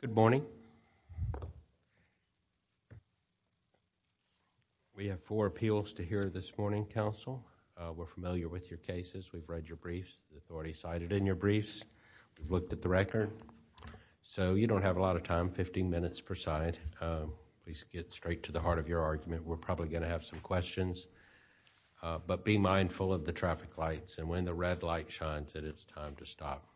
Good morning. We have four appeals to hear this morning, counsel. We're familiar with your cases. We've read your briefs. We've already cited in your briefs. We've looked at the record. So you don't have a lot of time, 15 minutes per side. Please get straight to the heart of your argument. We're probably going to have some questions. But be mindful of the traffic lights. And when the red light shines, it is time to stop.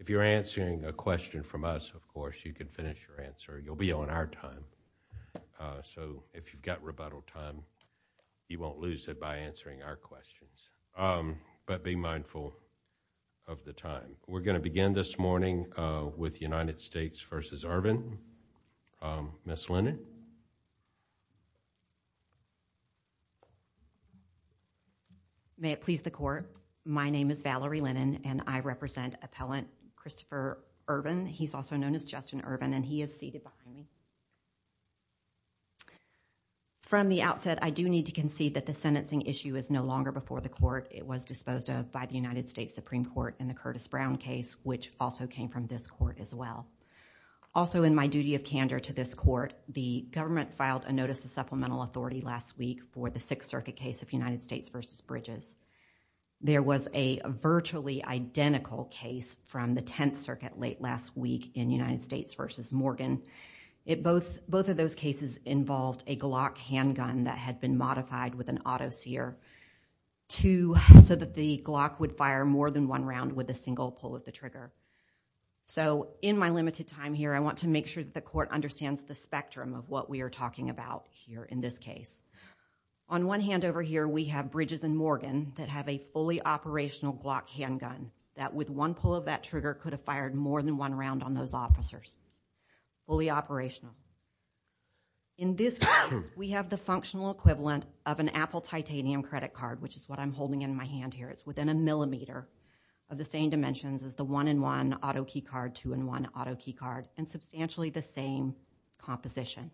If you're answering a question from us, of course, you can finish your answer. You'll be on our time. So if you've got rebuttal time, you won't lose it by answering our questions. But be mindful of the time. We're going to begin this morning with United States v. Ervin. Ms. Lennon? Ms. Lennon May it please the Court, my name is Valerie Lennon and I represent Appellant Kristopher Ervin. He's also known as Justin Ervin and he is seated behind me. From the outset, I do need to concede that the sentencing issue is no longer before the Court. It was disposed of by the United States Supreme Court in the Curtis Brown case, which also came from this Court as well. Also, in my duty of candor to this Court, the government filed a notice of supplemental authority last week for the Sixth Circuit case of United States v. Bridges. There was a virtually identical case from the Tenth Circuit late last week in United States v. Morgan. Both of those cases involved a Glock handgun that had been modified with an auto sear so that the Glock would fire more than one round with a single pull of the trigger. So in my limited time here, I want to make sure that the Court understands the spectrum of what we are talking about here in this case. On one hand over here, we have Bridges and Morgan that have a fully operational Glock handgun that with one pull of that trigger could have fired more than one round on those officers. Fully operational. In this case, we have the functional equivalent of an Apple titanium credit card, which is what I'm holding in my hand here. It's within a millimeter of the same dimensions as the one-in-one auto key card, two-in-one auto key card, and substantially the same composition.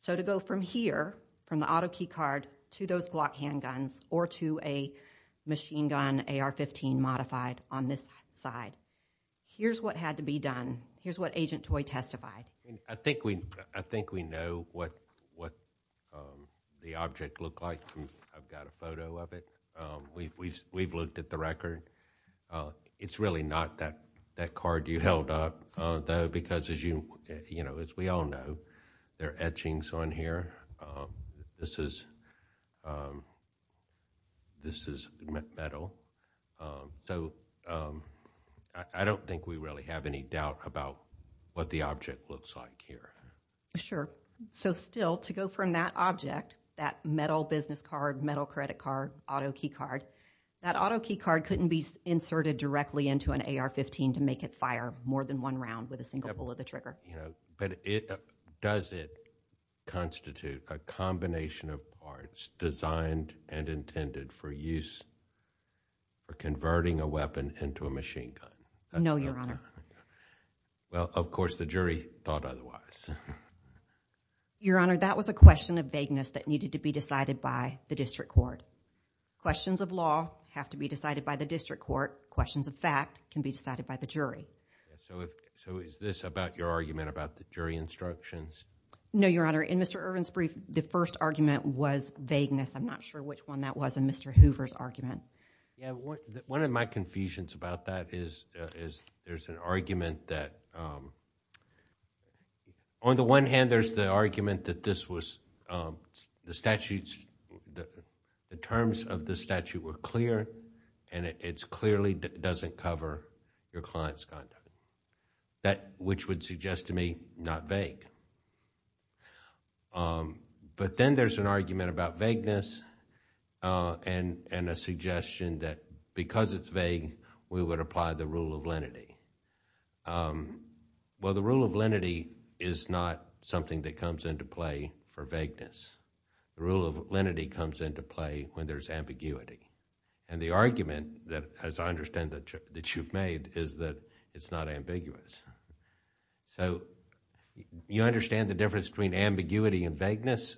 So to go from here, from the auto key card, to those Glock handguns or to a machine gun AR-15 modified on this side, here's what had to be done. Here's what Agent Toye testified. I think we know what the object looked like. I've got a photo of it. We've looked at the picture. It's really not that card you held up, though, because as we all know, there are etchings on here. This is metal. So I don't think we really have any doubt about what the object looks like here. Sure. So still, to go from that object, that metal business card, metal credit card, auto key card couldn't be inserted directly into an AR-15 to make it fire more than one round with a single pull of the trigger. Does it constitute a combination of parts designed and intended for use for converting a weapon into a machine gun? No, Your Honor. Well, of course, the jury thought otherwise. Your Honor, that was a question of vagueness that needed to be decided by the district court. Questions of law have to be decided by the district court. Questions of fact can be decided by the jury. So is this about your argument about the jury instructions? No, Your Honor. In Mr. Irwin's brief, the first argument was vagueness. I'm not sure which one that was in Mr. Hoover's argument. One of my confusions about that is there's an argument that... On the one hand, there's the argument that the terms of the statute were clear and it clearly doesn't cover your client's conduct, which would suggest to me not vague. But then there's an argument about vagueness and a suggestion that because it's vague, we would apply the rule of lenity. Well, the rule of lenity is not something that comes into play for vagueness. The rule of lenity comes into play when there's ambiguity. The argument, as I understand that you've made, is that it's not ambiguous. You understand the difference between ambiguity and vagueness?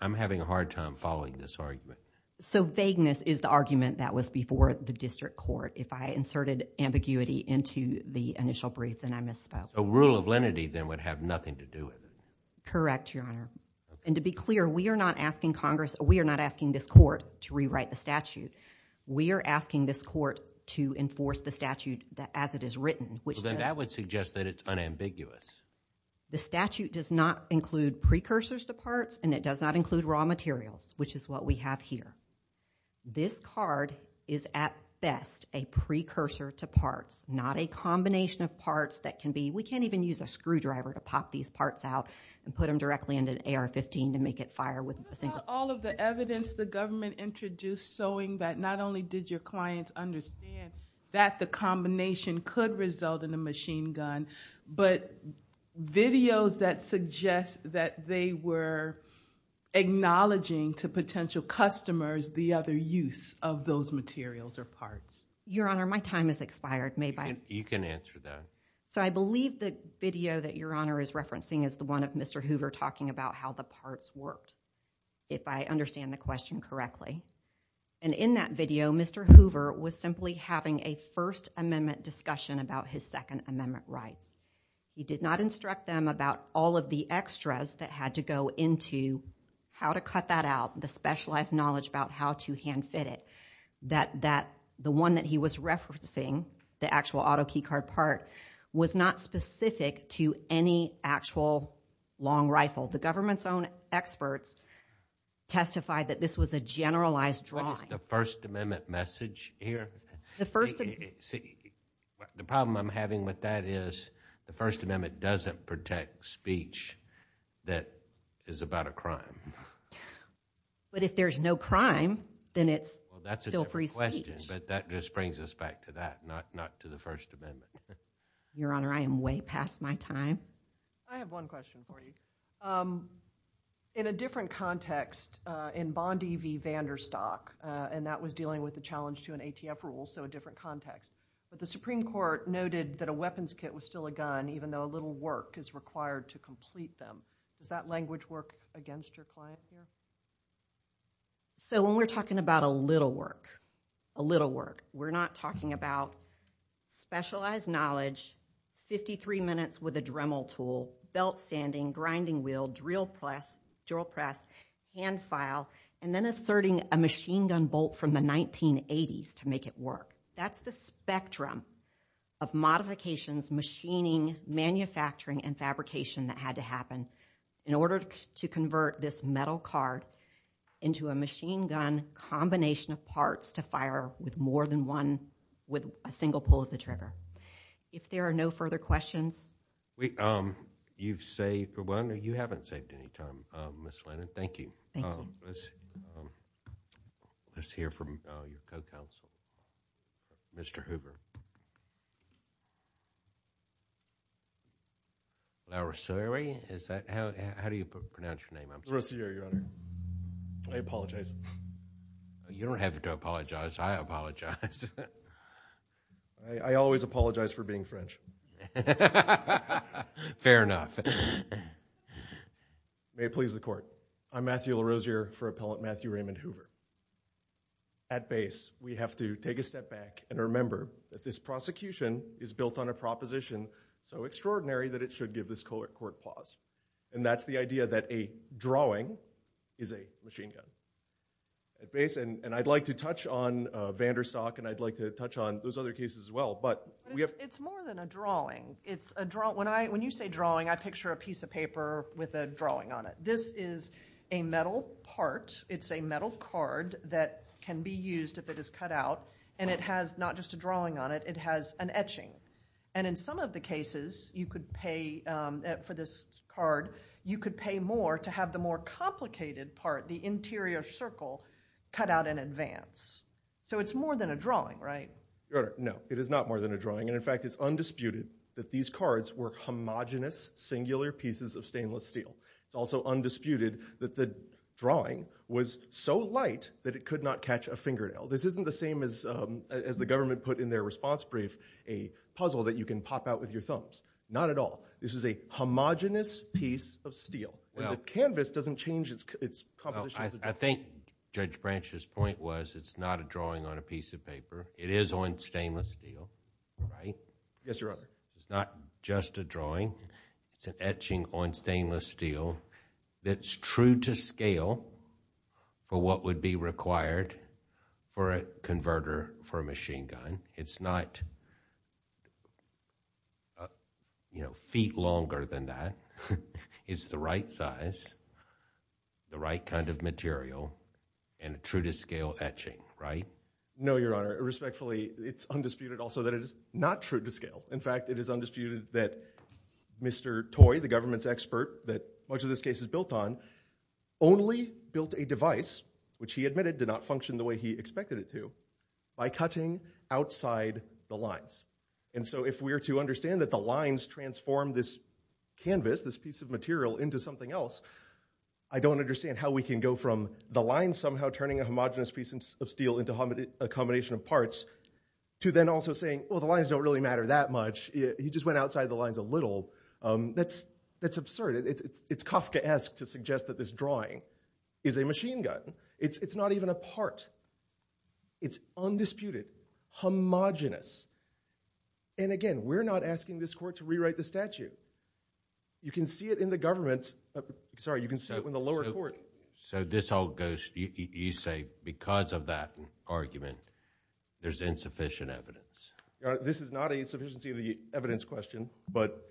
I'm having a hard time following this argument. So vagueness is the argument that was before the district court. If I inserted ambiguity into the initial brief, then I misspoke. A rule of lenity then would have nothing to do with it. Correct, Your Honor. And to be clear, we are not asking this court to rewrite the statute. We are asking this court to enforce the statute as it is written, which... Well, then that would suggest that it's unambiguous. The statute does not include precursors to parts and it does not include raw materials, which is what we have here. This card is, at best, a precursor to parts, not a combination of parts that can be... We can't even use a screwdriver to pop these parts out and put them directly into an AR-15 to make it fire with a single... What about all of the evidence the government introduced showing that not only did your clients understand that the combination could result in a machine gun, but videos that suggest that they were acknowledging to potential customers the other use of those materials or parts? Your Honor, my time has expired. You can answer that. So I believe the video that Your Honor is referencing is the one of Mr. Hoover talking about how the parts worked, if I understand the question correctly. And in that video, Mr. Hoover was simply having a First Amendment discussion about his Second Amendment rights. He did not instruct them about all of the extras that had to go into how to cut that out, the specialized knowledge about how to hand-fit it, that the one that he was referencing, the actual auto key card part, was not specific to any actual long rifle. The government's own experts testified that this was a generalized drawing. What is the First Amendment message here? The First Amendment... See, the problem I'm having with that is the First Amendment doesn't protect speech that is about a crime. But if there's no crime, then it's still free speech. That's a different question, but that just brings us back to that, not to the First Amendment. Your Honor, I am way past my time. I have one question for you. In a different context, in Bondi v. Vanderstock, and that was dealing with the challenge to an ATF rule, so a different context. But the Supreme Court noted that a weapons kit was still a gun, even though a little work is required to complete them. Does that language work against your client here? So when we're talking about a little work, a little work, we're not talking about specialized knowledge, 53 minutes with a Dremel tool, belt-sanding, grinding wheel, drill press, hand file, and then asserting a machine gun bolt from the 1980s to make it work. That's the spectrum of modifications, machining, manufacturing, and fabrication that had to happen in order to convert this metal card into a machine gun combination of parts to fire with more than one, with a single pull of the trigger. If there are no further questions... You've saved, for one, you haven't saved any time, Ms. Lennon. Thank you. Let's hear from your co-counsel, Mr. Hoover. LaRosieri? How do you pronounce your name? LaRosieri, Your Honor. I apologize. You don't have to apologize. I apologize. I always apologize for being French. Fair enough. May it please the Court. I'm Matthew LaRosieri for Appellant Matthew Raymond Hoover. At base, we have to take a step back and remember that this prosecution is built on a proposition so extraordinary that it should give this court pause, and that's the idea that a drawing is a machine gun. At base, and I'd like to touch on Vanderstock, and I'd like to touch on those other cases as well, but we have... It's more than a drawing. It's a drawing. When you say drawing, I picture a piece of paper with a drawing on it. This is a metal part. It's a metal card that can be used if it is cut out, and it has not just a drawing on it. It has an etching, and in some of the cases you could pay for this card, you could pay more to have the more complicated part, the interior circle, cut out in advance. So it's more than a drawing, right? Your Honor, no. It is not more than a drawing, and in fact, it's undisputed that these cards were homogenous, singular pieces of stainless steel. It's also undisputed that the drawing was so light that it could not catch a fingernail. This isn't the same as the government put in their response brief a puzzle that you can pop out with your thumbs. Not at all. This is a homogenous piece of steel, and the canvas doesn't change its composition. I think Judge Branch's point was it's not a drawing on a piece of paper. It is on stainless steel, right? Yes, Your Honor. It's not just a drawing. It's an etching on stainless steel that's true to scale for what would be required for a converter for a machine gun. It's not feet longer than that. It's the size, the right kind of material, and true to scale etching, right? No, Your Honor. Respectfully, it's undisputed also that it is not true to scale. In fact, it is undisputed that Mr. Toy, the government's expert that much of this case is built on, only built a device, which he admitted did not function the way he expected it to, by cutting outside the lines. And so if we are to understand that the lines transform this canvas, this piece of material, into something else, I don't understand how we can go from the lines somehow turning a homogenous piece of steel into a combination of parts, to then also saying, well, the lines don't really matter that much. He just went outside the lines a little. That's absurd. It's Kafkaesque to suggest that this drawing is a machine gun. It's not even a part. It's undisputed, homogenous. And again, we're not asking this court to rewrite the statute. You can see it in the government, sorry, you can see it in the lower court. So this all goes, you say, because of that argument, there's insufficient evidence. This is not a sufficiency of the evidence question, but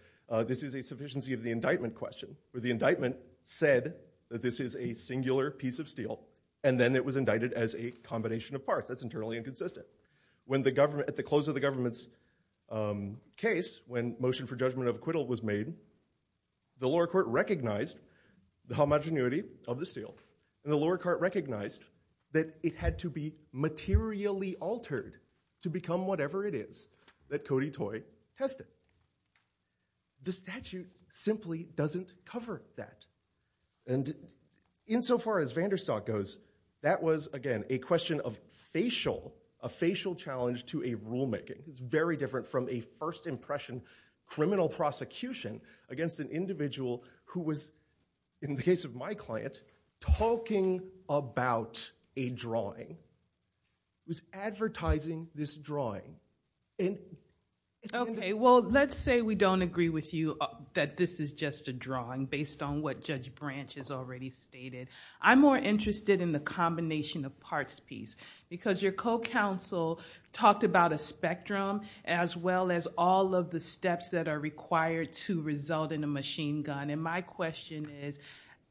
this is a sufficiency of the indictment question, where the indictment said that this is a singular piece of steel, and then it was indicted as a combination of parts. That's the government's case when motion for judgment of acquittal was made. The lower court recognized the homogeneity of the steel, and the lower court recognized that it had to be materially altered to become whatever it is that Cody Toy tested. The statute simply doesn't cover that. And insofar as Vanderstock goes, that was, again, a question of facial, a facial challenge to a very different from a first impression criminal prosecution against an individual who was, in the case of my client, talking about a drawing, was advertising this drawing. Okay, well, let's say we don't agree with you that this is just a drawing based on what Judge Branch has already stated. I'm more interested in the combination of parts piece, because your counsel talked about a spectrum, as well as all of the steps that are required to result in a machine gun. And my question is,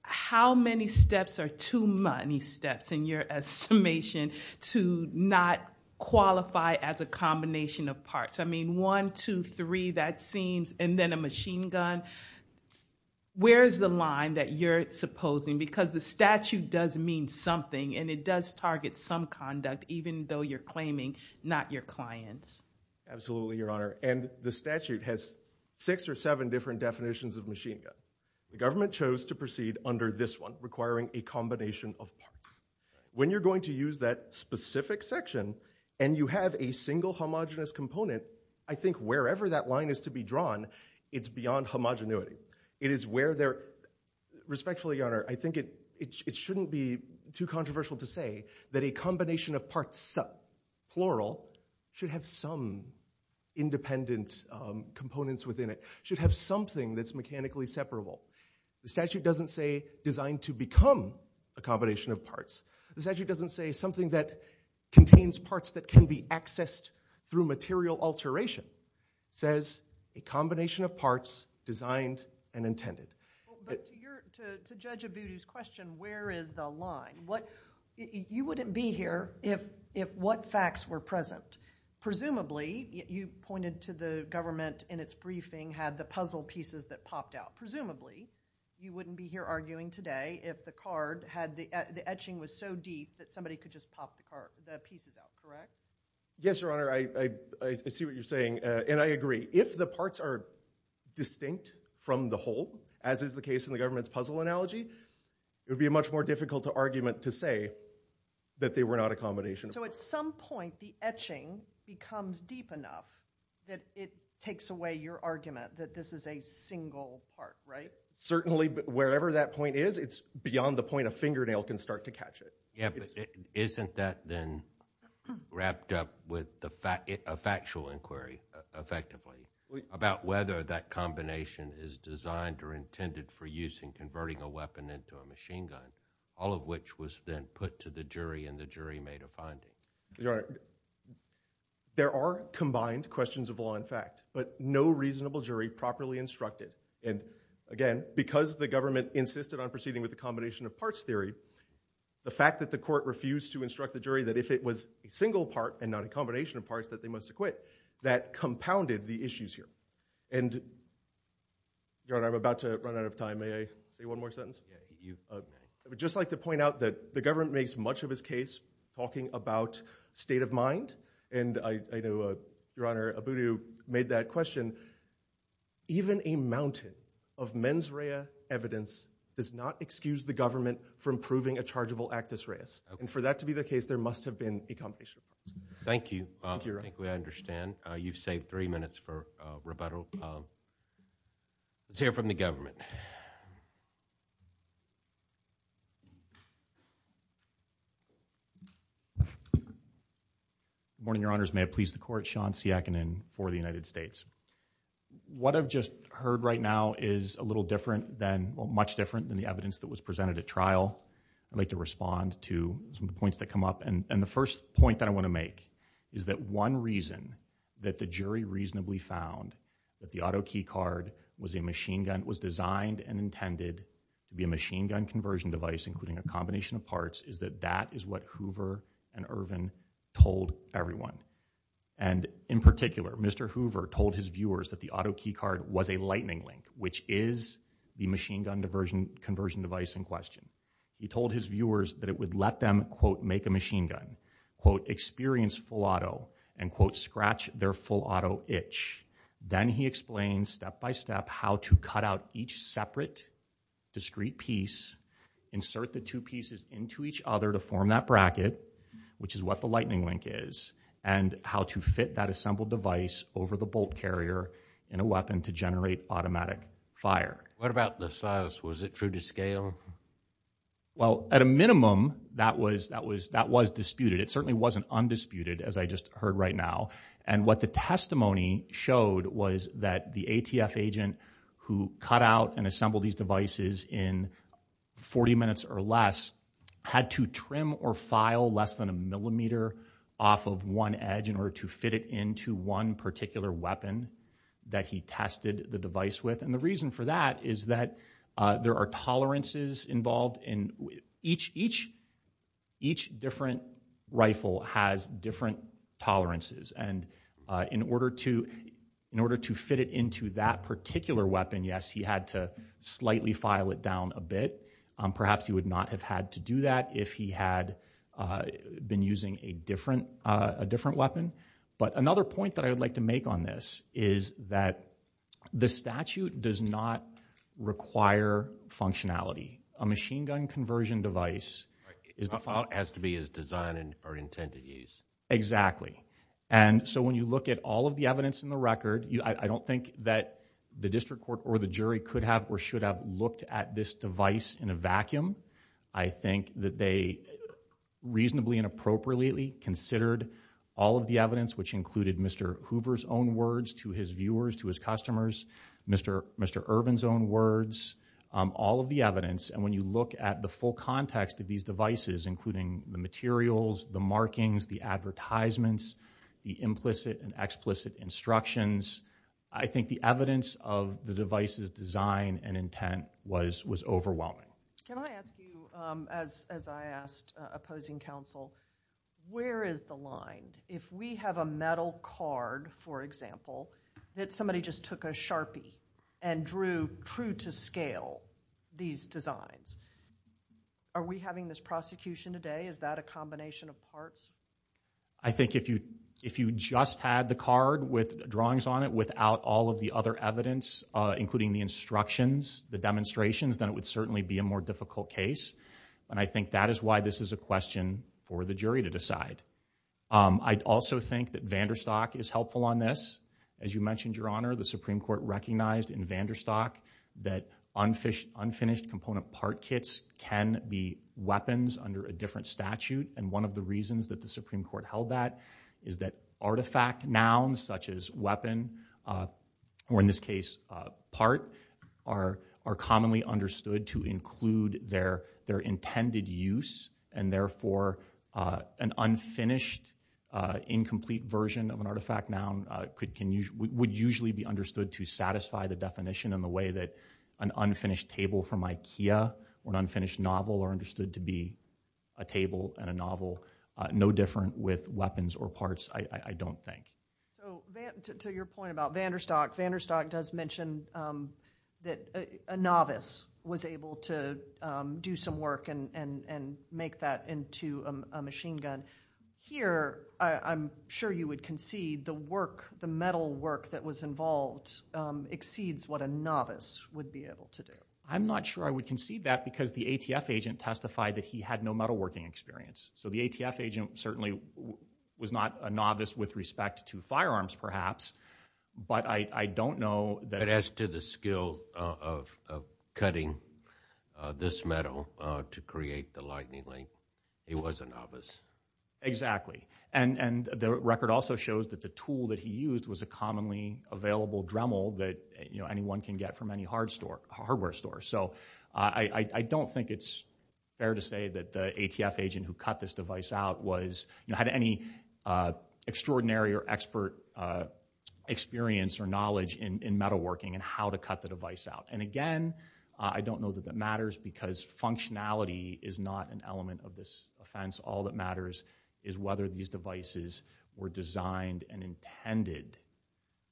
how many steps are too many steps in your estimation to not qualify as a combination of parts? I mean, one, two, three, that seems, and then a machine gun. Where's the line that you're supposing? Because the statute does mean something, and it does target some conduct, even though you're claiming not your clients. Absolutely, Your Honor. And the statute has six or seven different definitions of machine gun. The government chose to proceed under this one, requiring a combination of parts. When you're going to use that specific section, and you have a single homogenous component, I think wherever that line is to be drawn, it's beyond homogeneity. It is where they're, respectfully, Your Honor, I think it shouldn't be too controversial to say that a combination of parts, plural, should have some independent components within it, should have something that's mechanically separable. The statute doesn't say designed to become a combination of parts. The statute doesn't say something that contains parts that can be accessed through material alteration. It says a combination of parts designed and intended. But to Judge Abudu's question, where is the line? You wouldn't be here if what facts were present. Presumably, you pointed to the government in its briefing had the puzzle pieces that popped out. Presumably, you wouldn't be here arguing today if the card had, the etching was so deep that somebody could just pop the pieces out, correct? Yes, Your Honor, I see what you're saying, and I agree. If the parts are distinct from the whole, as is the case in the government's puzzle analogy, it would be a much more difficult argument to say that they were not a combination of parts. So at some point, the etching becomes deep enough that it takes away your argument that this is a single part, right? Certainly, but wherever that point is, it's beyond the point a fingernail can start to catch it. Yeah, but isn't that then wrapped up with a factual inquiry, effectively, about whether that combination is designed or intended for use in converting a weapon into a machine gun, all of which was then put to the jury and the jury made a finding? Your Honor, there are combined questions of law and fact, but no reasonable jury properly instructed. And again, because the government insisted on proceeding with the combination of parts theory, the fact that the court refused to instruct the single part and not a combination of parts that they must acquit, that compounded the issues here. Your Honor, I'm about to run out of time. May I say one more sentence? I would just like to point out that the government makes much of his case talking about state of mind, and I know, Your Honor, Abudu made that question. Even a mountain of mens rea evidence does not excuse the government from proving a chargeable actus reus. And for that to be the case, there must have been a combination of parts. Thank you. I think we understand. You've saved three minutes for Roberto. Let's hear from the government. Good morning, Your Honors. May it please the court. Sean Siakinen for the United States. What I've just heard right now is a little different than, well, much different than the evidence that was presented at trial. I'd like to respond to some of the points that come up. And the first point that I want to make is that one reason that the jury reasonably found that the auto key card was a machine gun, was designed and intended to be a machine gun conversion device, including a combination of parts, is that that is what Hoover and Ervin told everyone. And in particular, Mr. Hoover told his viewers that the auto key card was a lightning link, which is the machine gun conversion device in question. He told his viewers that it would let them, quote, make a machine gun, quote, experience full auto and, quote, scratch their full auto itch. Then he explained step by step how to cut out each separate discrete piece, insert the two pieces into each other to form that bracket, which is what the lightning link is, and how to fit that assembled device over the bolt carrier in a weapon to generate automatic fire. What about the size? Was it true to scale? Well, at a minimum, that was disputed. It certainly wasn't undisputed, as I just heard right now. And what the testimony showed was that the ATF agent who cut out and assembled these devices in 40 minutes or less had to trim or file less than a millimeter off of one edge in order to fit it into one particular weapon that he tested the device with. And the reason for that is that there are tolerances involved. And each different rifle has different tolerances. And in order to fit it into that particular weapon, yes, he had to slightly file it down a bit. Perhaps he would not have had to do that if he had been using a different weapon. But another point that I would like to make on this is that the statute does not require functionality. A machine gun conversion device is the file has to be as designed or intended use. Exactly. And so when you look at all of the evidence in the record, I don't think that the district court or the jury could have or should have looked at this device in a vacuum. I think that they reasonably and appropriately considered all of the evidence, which included Mr. Hoover's own words to his viewers, to his customers, Mr. Urban's own words, all of the evidence. And when you look at the full context of these devices, including the materials, the devices, design and intent was overwhelming. Can I ask you, as I asked opposing counsel, where is the line if we have a metal card, for example, that somebody just took a sharpie and drew true to scale these designs? Are we having this prosecution today? Is that a combination of parts? I think if you if you just had the card with drawings on it without all of the other evidence, including the instructions, the demonstrations, then it would certainly be a more difficult case. And I think that is why this is a question for the jury to decide. I'd also think that Vanderstock is helpful on this. As you mentioned, Your Honor, the Supreme Court recognized in Vanderstock that unfinished unfinished component part kits can be weapons under a different statute. And one of the reasons that the Supreme Court held that is that artifact nouns such as weapon or in this case, part are are commonly understood to include their their intended use. And therefore, an unfinished, incomplete version of an artifact noun could can would usually be understood to satisfy the definition in the way that an unfinished table from Ikea, when unfinished novel are understood to be a table and a novel, no different with weapons or parts, I don't think. So to your point about Vanderstock, Vanderstock does mention that a novice was able to do some work and make that into a machine gun. Here, I'm sure you would concede the work, the metal work that was involved exceeds what a novice would be able to do. I'm not sure I would concede that because the ATF agent testified that he had no metalworking experience. So the ATF agent certainly was not a novice with respect to firearms, perhaps. But I don't know that as to the skill of cutting this metal to create the lightning link, he was a novice. Exactly. And the record also shows that the tool that he used was a commonly available Dremel that you know, anyone can get from any hard store hardware store. So I don't think it's fair to say that the ATF agent who cut this device out had any extraordinary or expert experience or knowledge in metalworking and how to cut the device out. And again, I don't know that that matters because functionality is not an element of this offense. All that matters is whether these devices were designed and intended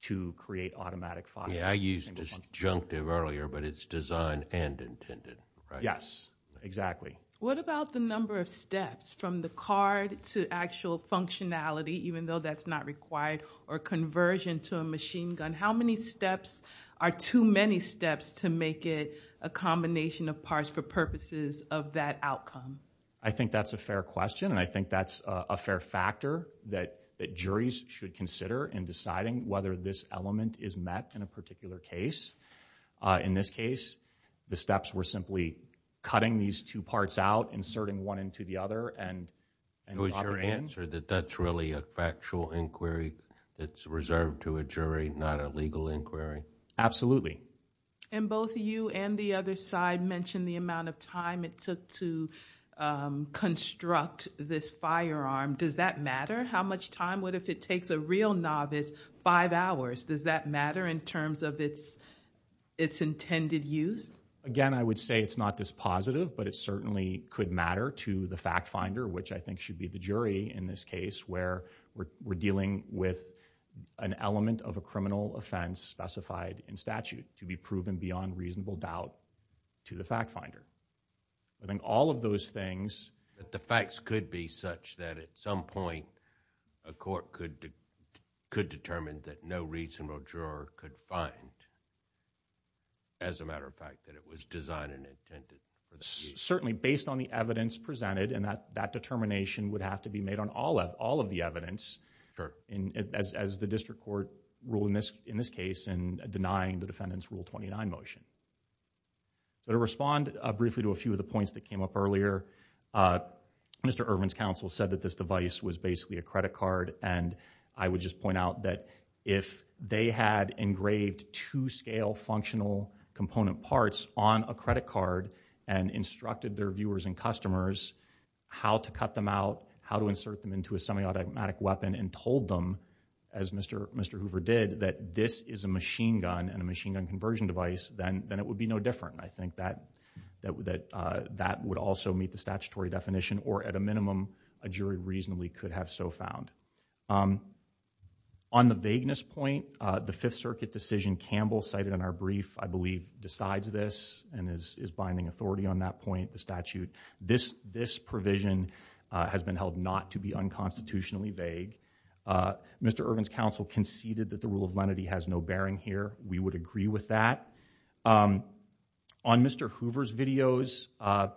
to create automatic fire. Yeah, I used this adjunctive earlier, but it's and intended. Yes, exactly. What about the number of steps from the card to actual functionality, even though that's not required or conversion to a machine gun? How many steps are too many steps to make it a combination of parts for purposes of that outcome? I think that's a fair question. And I think that's a fair factor that that juries should consider in deciding whether this element is met in a particular case. In this case, the steps were simply cutting these two parts out, inserting one into the other, and it was your answer that that's really a factual inquiry. It's reserved to a jury, not a legal inquiry. Absolutely. And both you and the other side mentioned the amount of time it took to construct this firearm. Does that matter? How much time would it take? If it takes a real novice five hours, does that matter in terms of its intended use? Again, I would say it's not this positive, but it certainly could matter to the fact finder, which I think should be the jury in this case where we're dealing with an element of a criminal offense specified in statute to be proven beyond reasonable doubt to the fact finder. I think all those things. But the facts could be such that at some point a court could determine that no reasonable juror could find, as a matter of fact, that it was designed and intended. Certainly, based on the evidence presented and that determination would have to be made on all of the evidence as the district court rule in this case and denying the defendant's Rule 29 motion. But to respond briefly to a few of the points that came up earlier, Mr. Irvin's counsel said that this device was basically a credit card and I would just point out that if they had engraved two scale functional component parts on a credit card and instructed their viewers and customers how to cut them out, how to insert them into a semi-automatic weapon and told them, as Mr. Hoover did, that this is a machine gun and a machine gun conversion device, then it would be no different. I think that would also meet the statutory definition or at a minimum a jury reasonably could have so found. On the vagueness point, the Fifth Circuit decision Campbell cited in our brief, I believe, decides this and is binding authority on that point, the statute. This provision has been held not to be unconstitutionally vague. Mr. Irvin's counsel conceded that the rule of lenity has no bearing here. We would agree with that. On Mr. Hoover's videos, I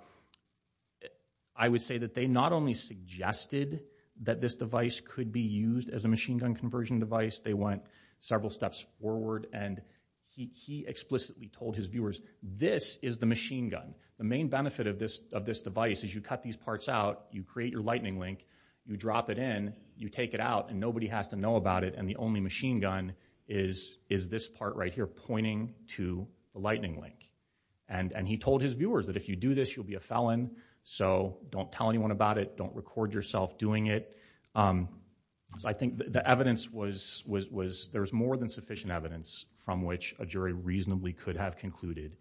would say that they not only suggested that this device could be used as a machine gun conversion device, they went several steps forward and he explicitly told his viewers, this is the machine gun. The main benefit of this of this device is you cut these parts out, you create your lightning link, you drop it in, you take it out and nobody has to know about it and the only machine gun is this part right here pointing to the lightning link. And he told his viewers that if you do this you'll be a felon, so don't tell anyone about it, don't record yourself doing it. I think the evidence was there's more than sufficient evidence from which a jury reasonably could have concluded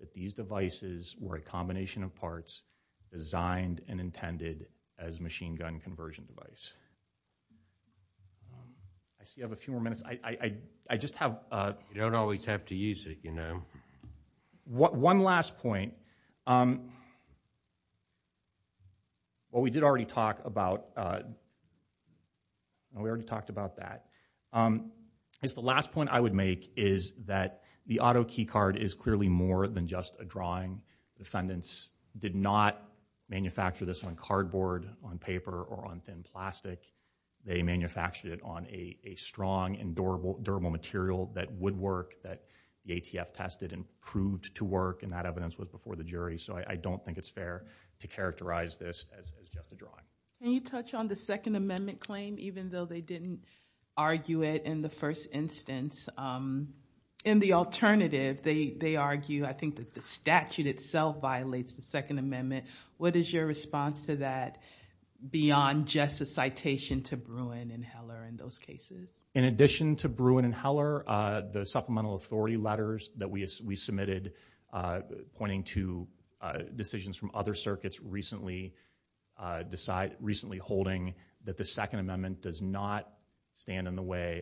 that these devices were a combination of parts designed and intended as machine gun conversion device. I still have a few more minutes. I just have... You don't always have to use it, you know. One last point, what we did already talk about, we already talked about that, um, is the last point I would make is that the auto key card is clearly more than just a drawing. Defendants did not manufacture this on cardboard, on paper, or on thin plastic. They manufactured it on a strong and durable durable material that would work that the ATF tested and proved to work and that evidence was before the jury, so I don't think it's fair to characterize this as just a first instance. In the alternative, they argue I think that the statute itself violates the second amendment. What is your response to that beyond just a citation to Bruin and Heller in those cases? In addition to Bruin and Heller, the supplemental authority letters that we submitted pointing to decisions from other circuits recently decide, recently holding that the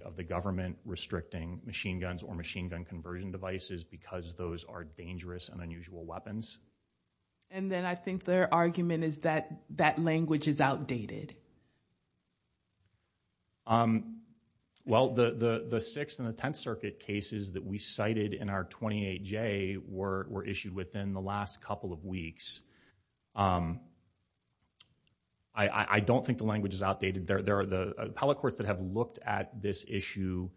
of the government restricting machine guns or machine gun conversion devices because those are dangerous and unusual weapons. And then I think their argument is that that language is outdated. Well, the sixth and the tenth circuit cases that we cited in our 28J were issued within the last couple of weeks. I don't think the language is outdated. There are the appellate courts that have looked at this issue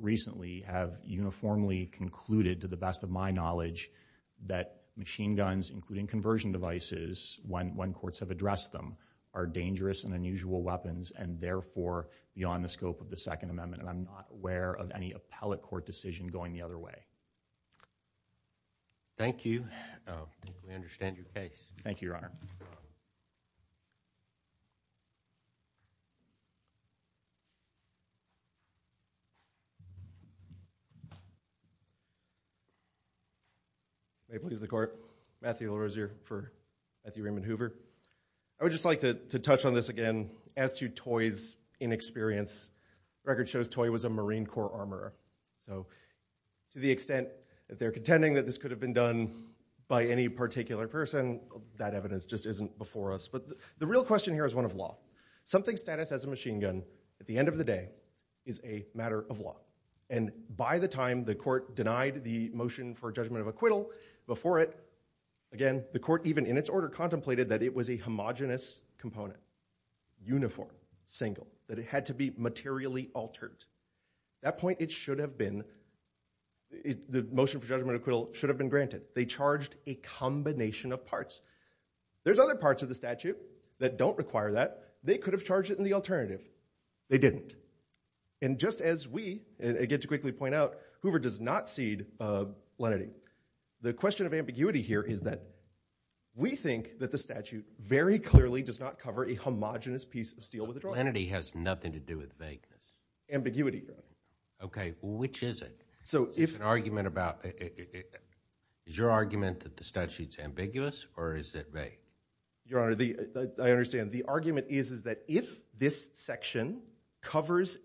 recently have uniformly concluded, to the best of my knowledge, that machine guns, including conversion devices, when courts have addressed them, are dangerous and unusual weapons and therefore beyond the scope of the second amendment. And I'm not aware of any appellate court decision going the other way. Thank you. We understand your case. Thank you, Your Honor. May it please the court. Matthew Orozier for Matthew Raymond Hoover. I would just like to touch on this again as to Toye's inexperience. The record shows Toye was a Marine Corps armorer. So to the extent that they're contending that this could have been done by any particular person, that evidence just isn't before us. But the real question here is one of law. Something's status as a machine gun, at the end of the day, is a matter of law. And by the time the court denied the motion for judgment of acquittal before it, again, the court even in its order contemplated that it was a homogenous component, uniform, single, that it had to be materially altered. At that point, the motion for judgment acquittal should have been granted. They charged a combination of parts. There's other parts of the statute that don't require that. They could have charged it in the alternative. They didn't. And just as we, and I get to quickly point out, Hoover does not cede lenity. The question of ambiguity here is that we think that the statute very clearly does not cover a homogenous piece of steel with a draw. Lenity has nothing to do with vagueness. Ambiguity. Okay. Which is it? It's an argument about, is your argument that the statute's ambiguous or is it vague? Your Honor, I understand. The argument is that if this section covers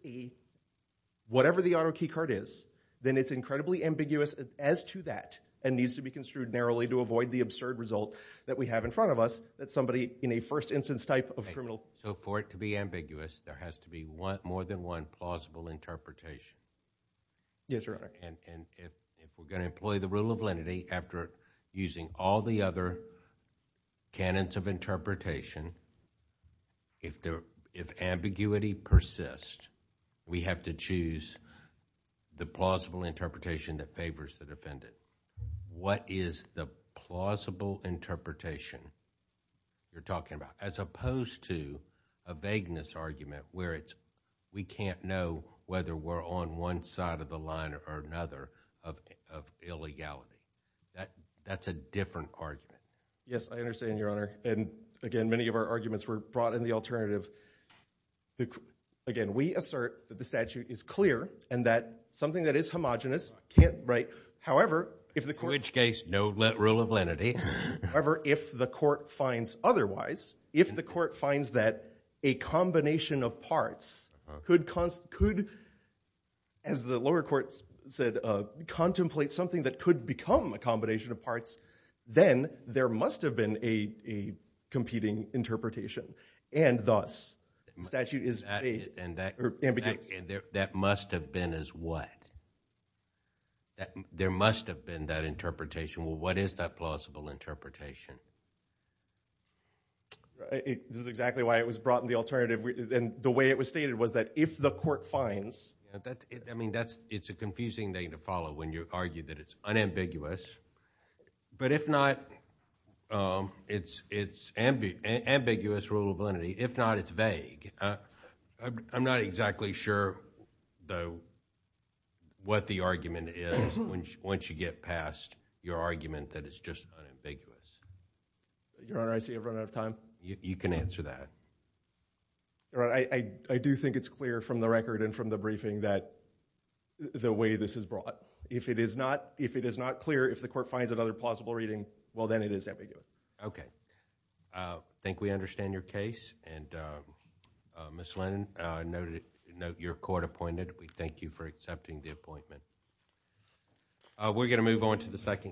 whatever the auto key card is, then it's incredibly ambiguous as to that and needs to be construed narrowly to avoid the absurd result that we have in front of us that somebody in a first instance type of criminal. So for it to be ambiguous, there has to be more than one plausible interpretation. Yes, Your Honor. And if we're going to employ the rule of lenity after using all the other canons of interpretation, if ambiguity persists, we have to choose the plausible interpretation that favors the defendant. What is the plausible interpretation you're talking about? As opposed to a vagueness argument where we can't know whether we're on one side of the line or another of illegality. That's a different argument. Yes, I understand, Your Honor. And again, many of our arguments were brought in the alternative. Again, we assert that the statute is clear and that something that is homogenous can't break. However, if the court- Which case, no rule of lenity. However, if the court finds otherwise, if the court finds that a combination of parts could, as the lower courts said, contemplate something that could become a combination of parts, then there must have been a competing interpretation. And thus, the statute is- That must have been as what? That there must have been that interpretation. Well, what is that plausible interpretation? This is exactly why it was brought in the alternative. And the way it was stated was that if the court finds- I mean, it's a confusing thing to follow when you argue that it's unambiguous. But if not, it's ambiguous rule of lenity. If not, it's vague. I'm not exactly sure, though, what the argument is once you get past your argument that it's just unambiguous. Your Honor, I see I've run out of time. You can answer that. Your Honor, I do think it's clear from the record and from the briefing that the way this is brought. If it is not clear, if the court finds another plausible reading, well, then it is ambiguous. Okay. I think we understand your case. Ms. Lennon, I note your court appointed. We thank you for accepting the appointment. We're going to move on to the second-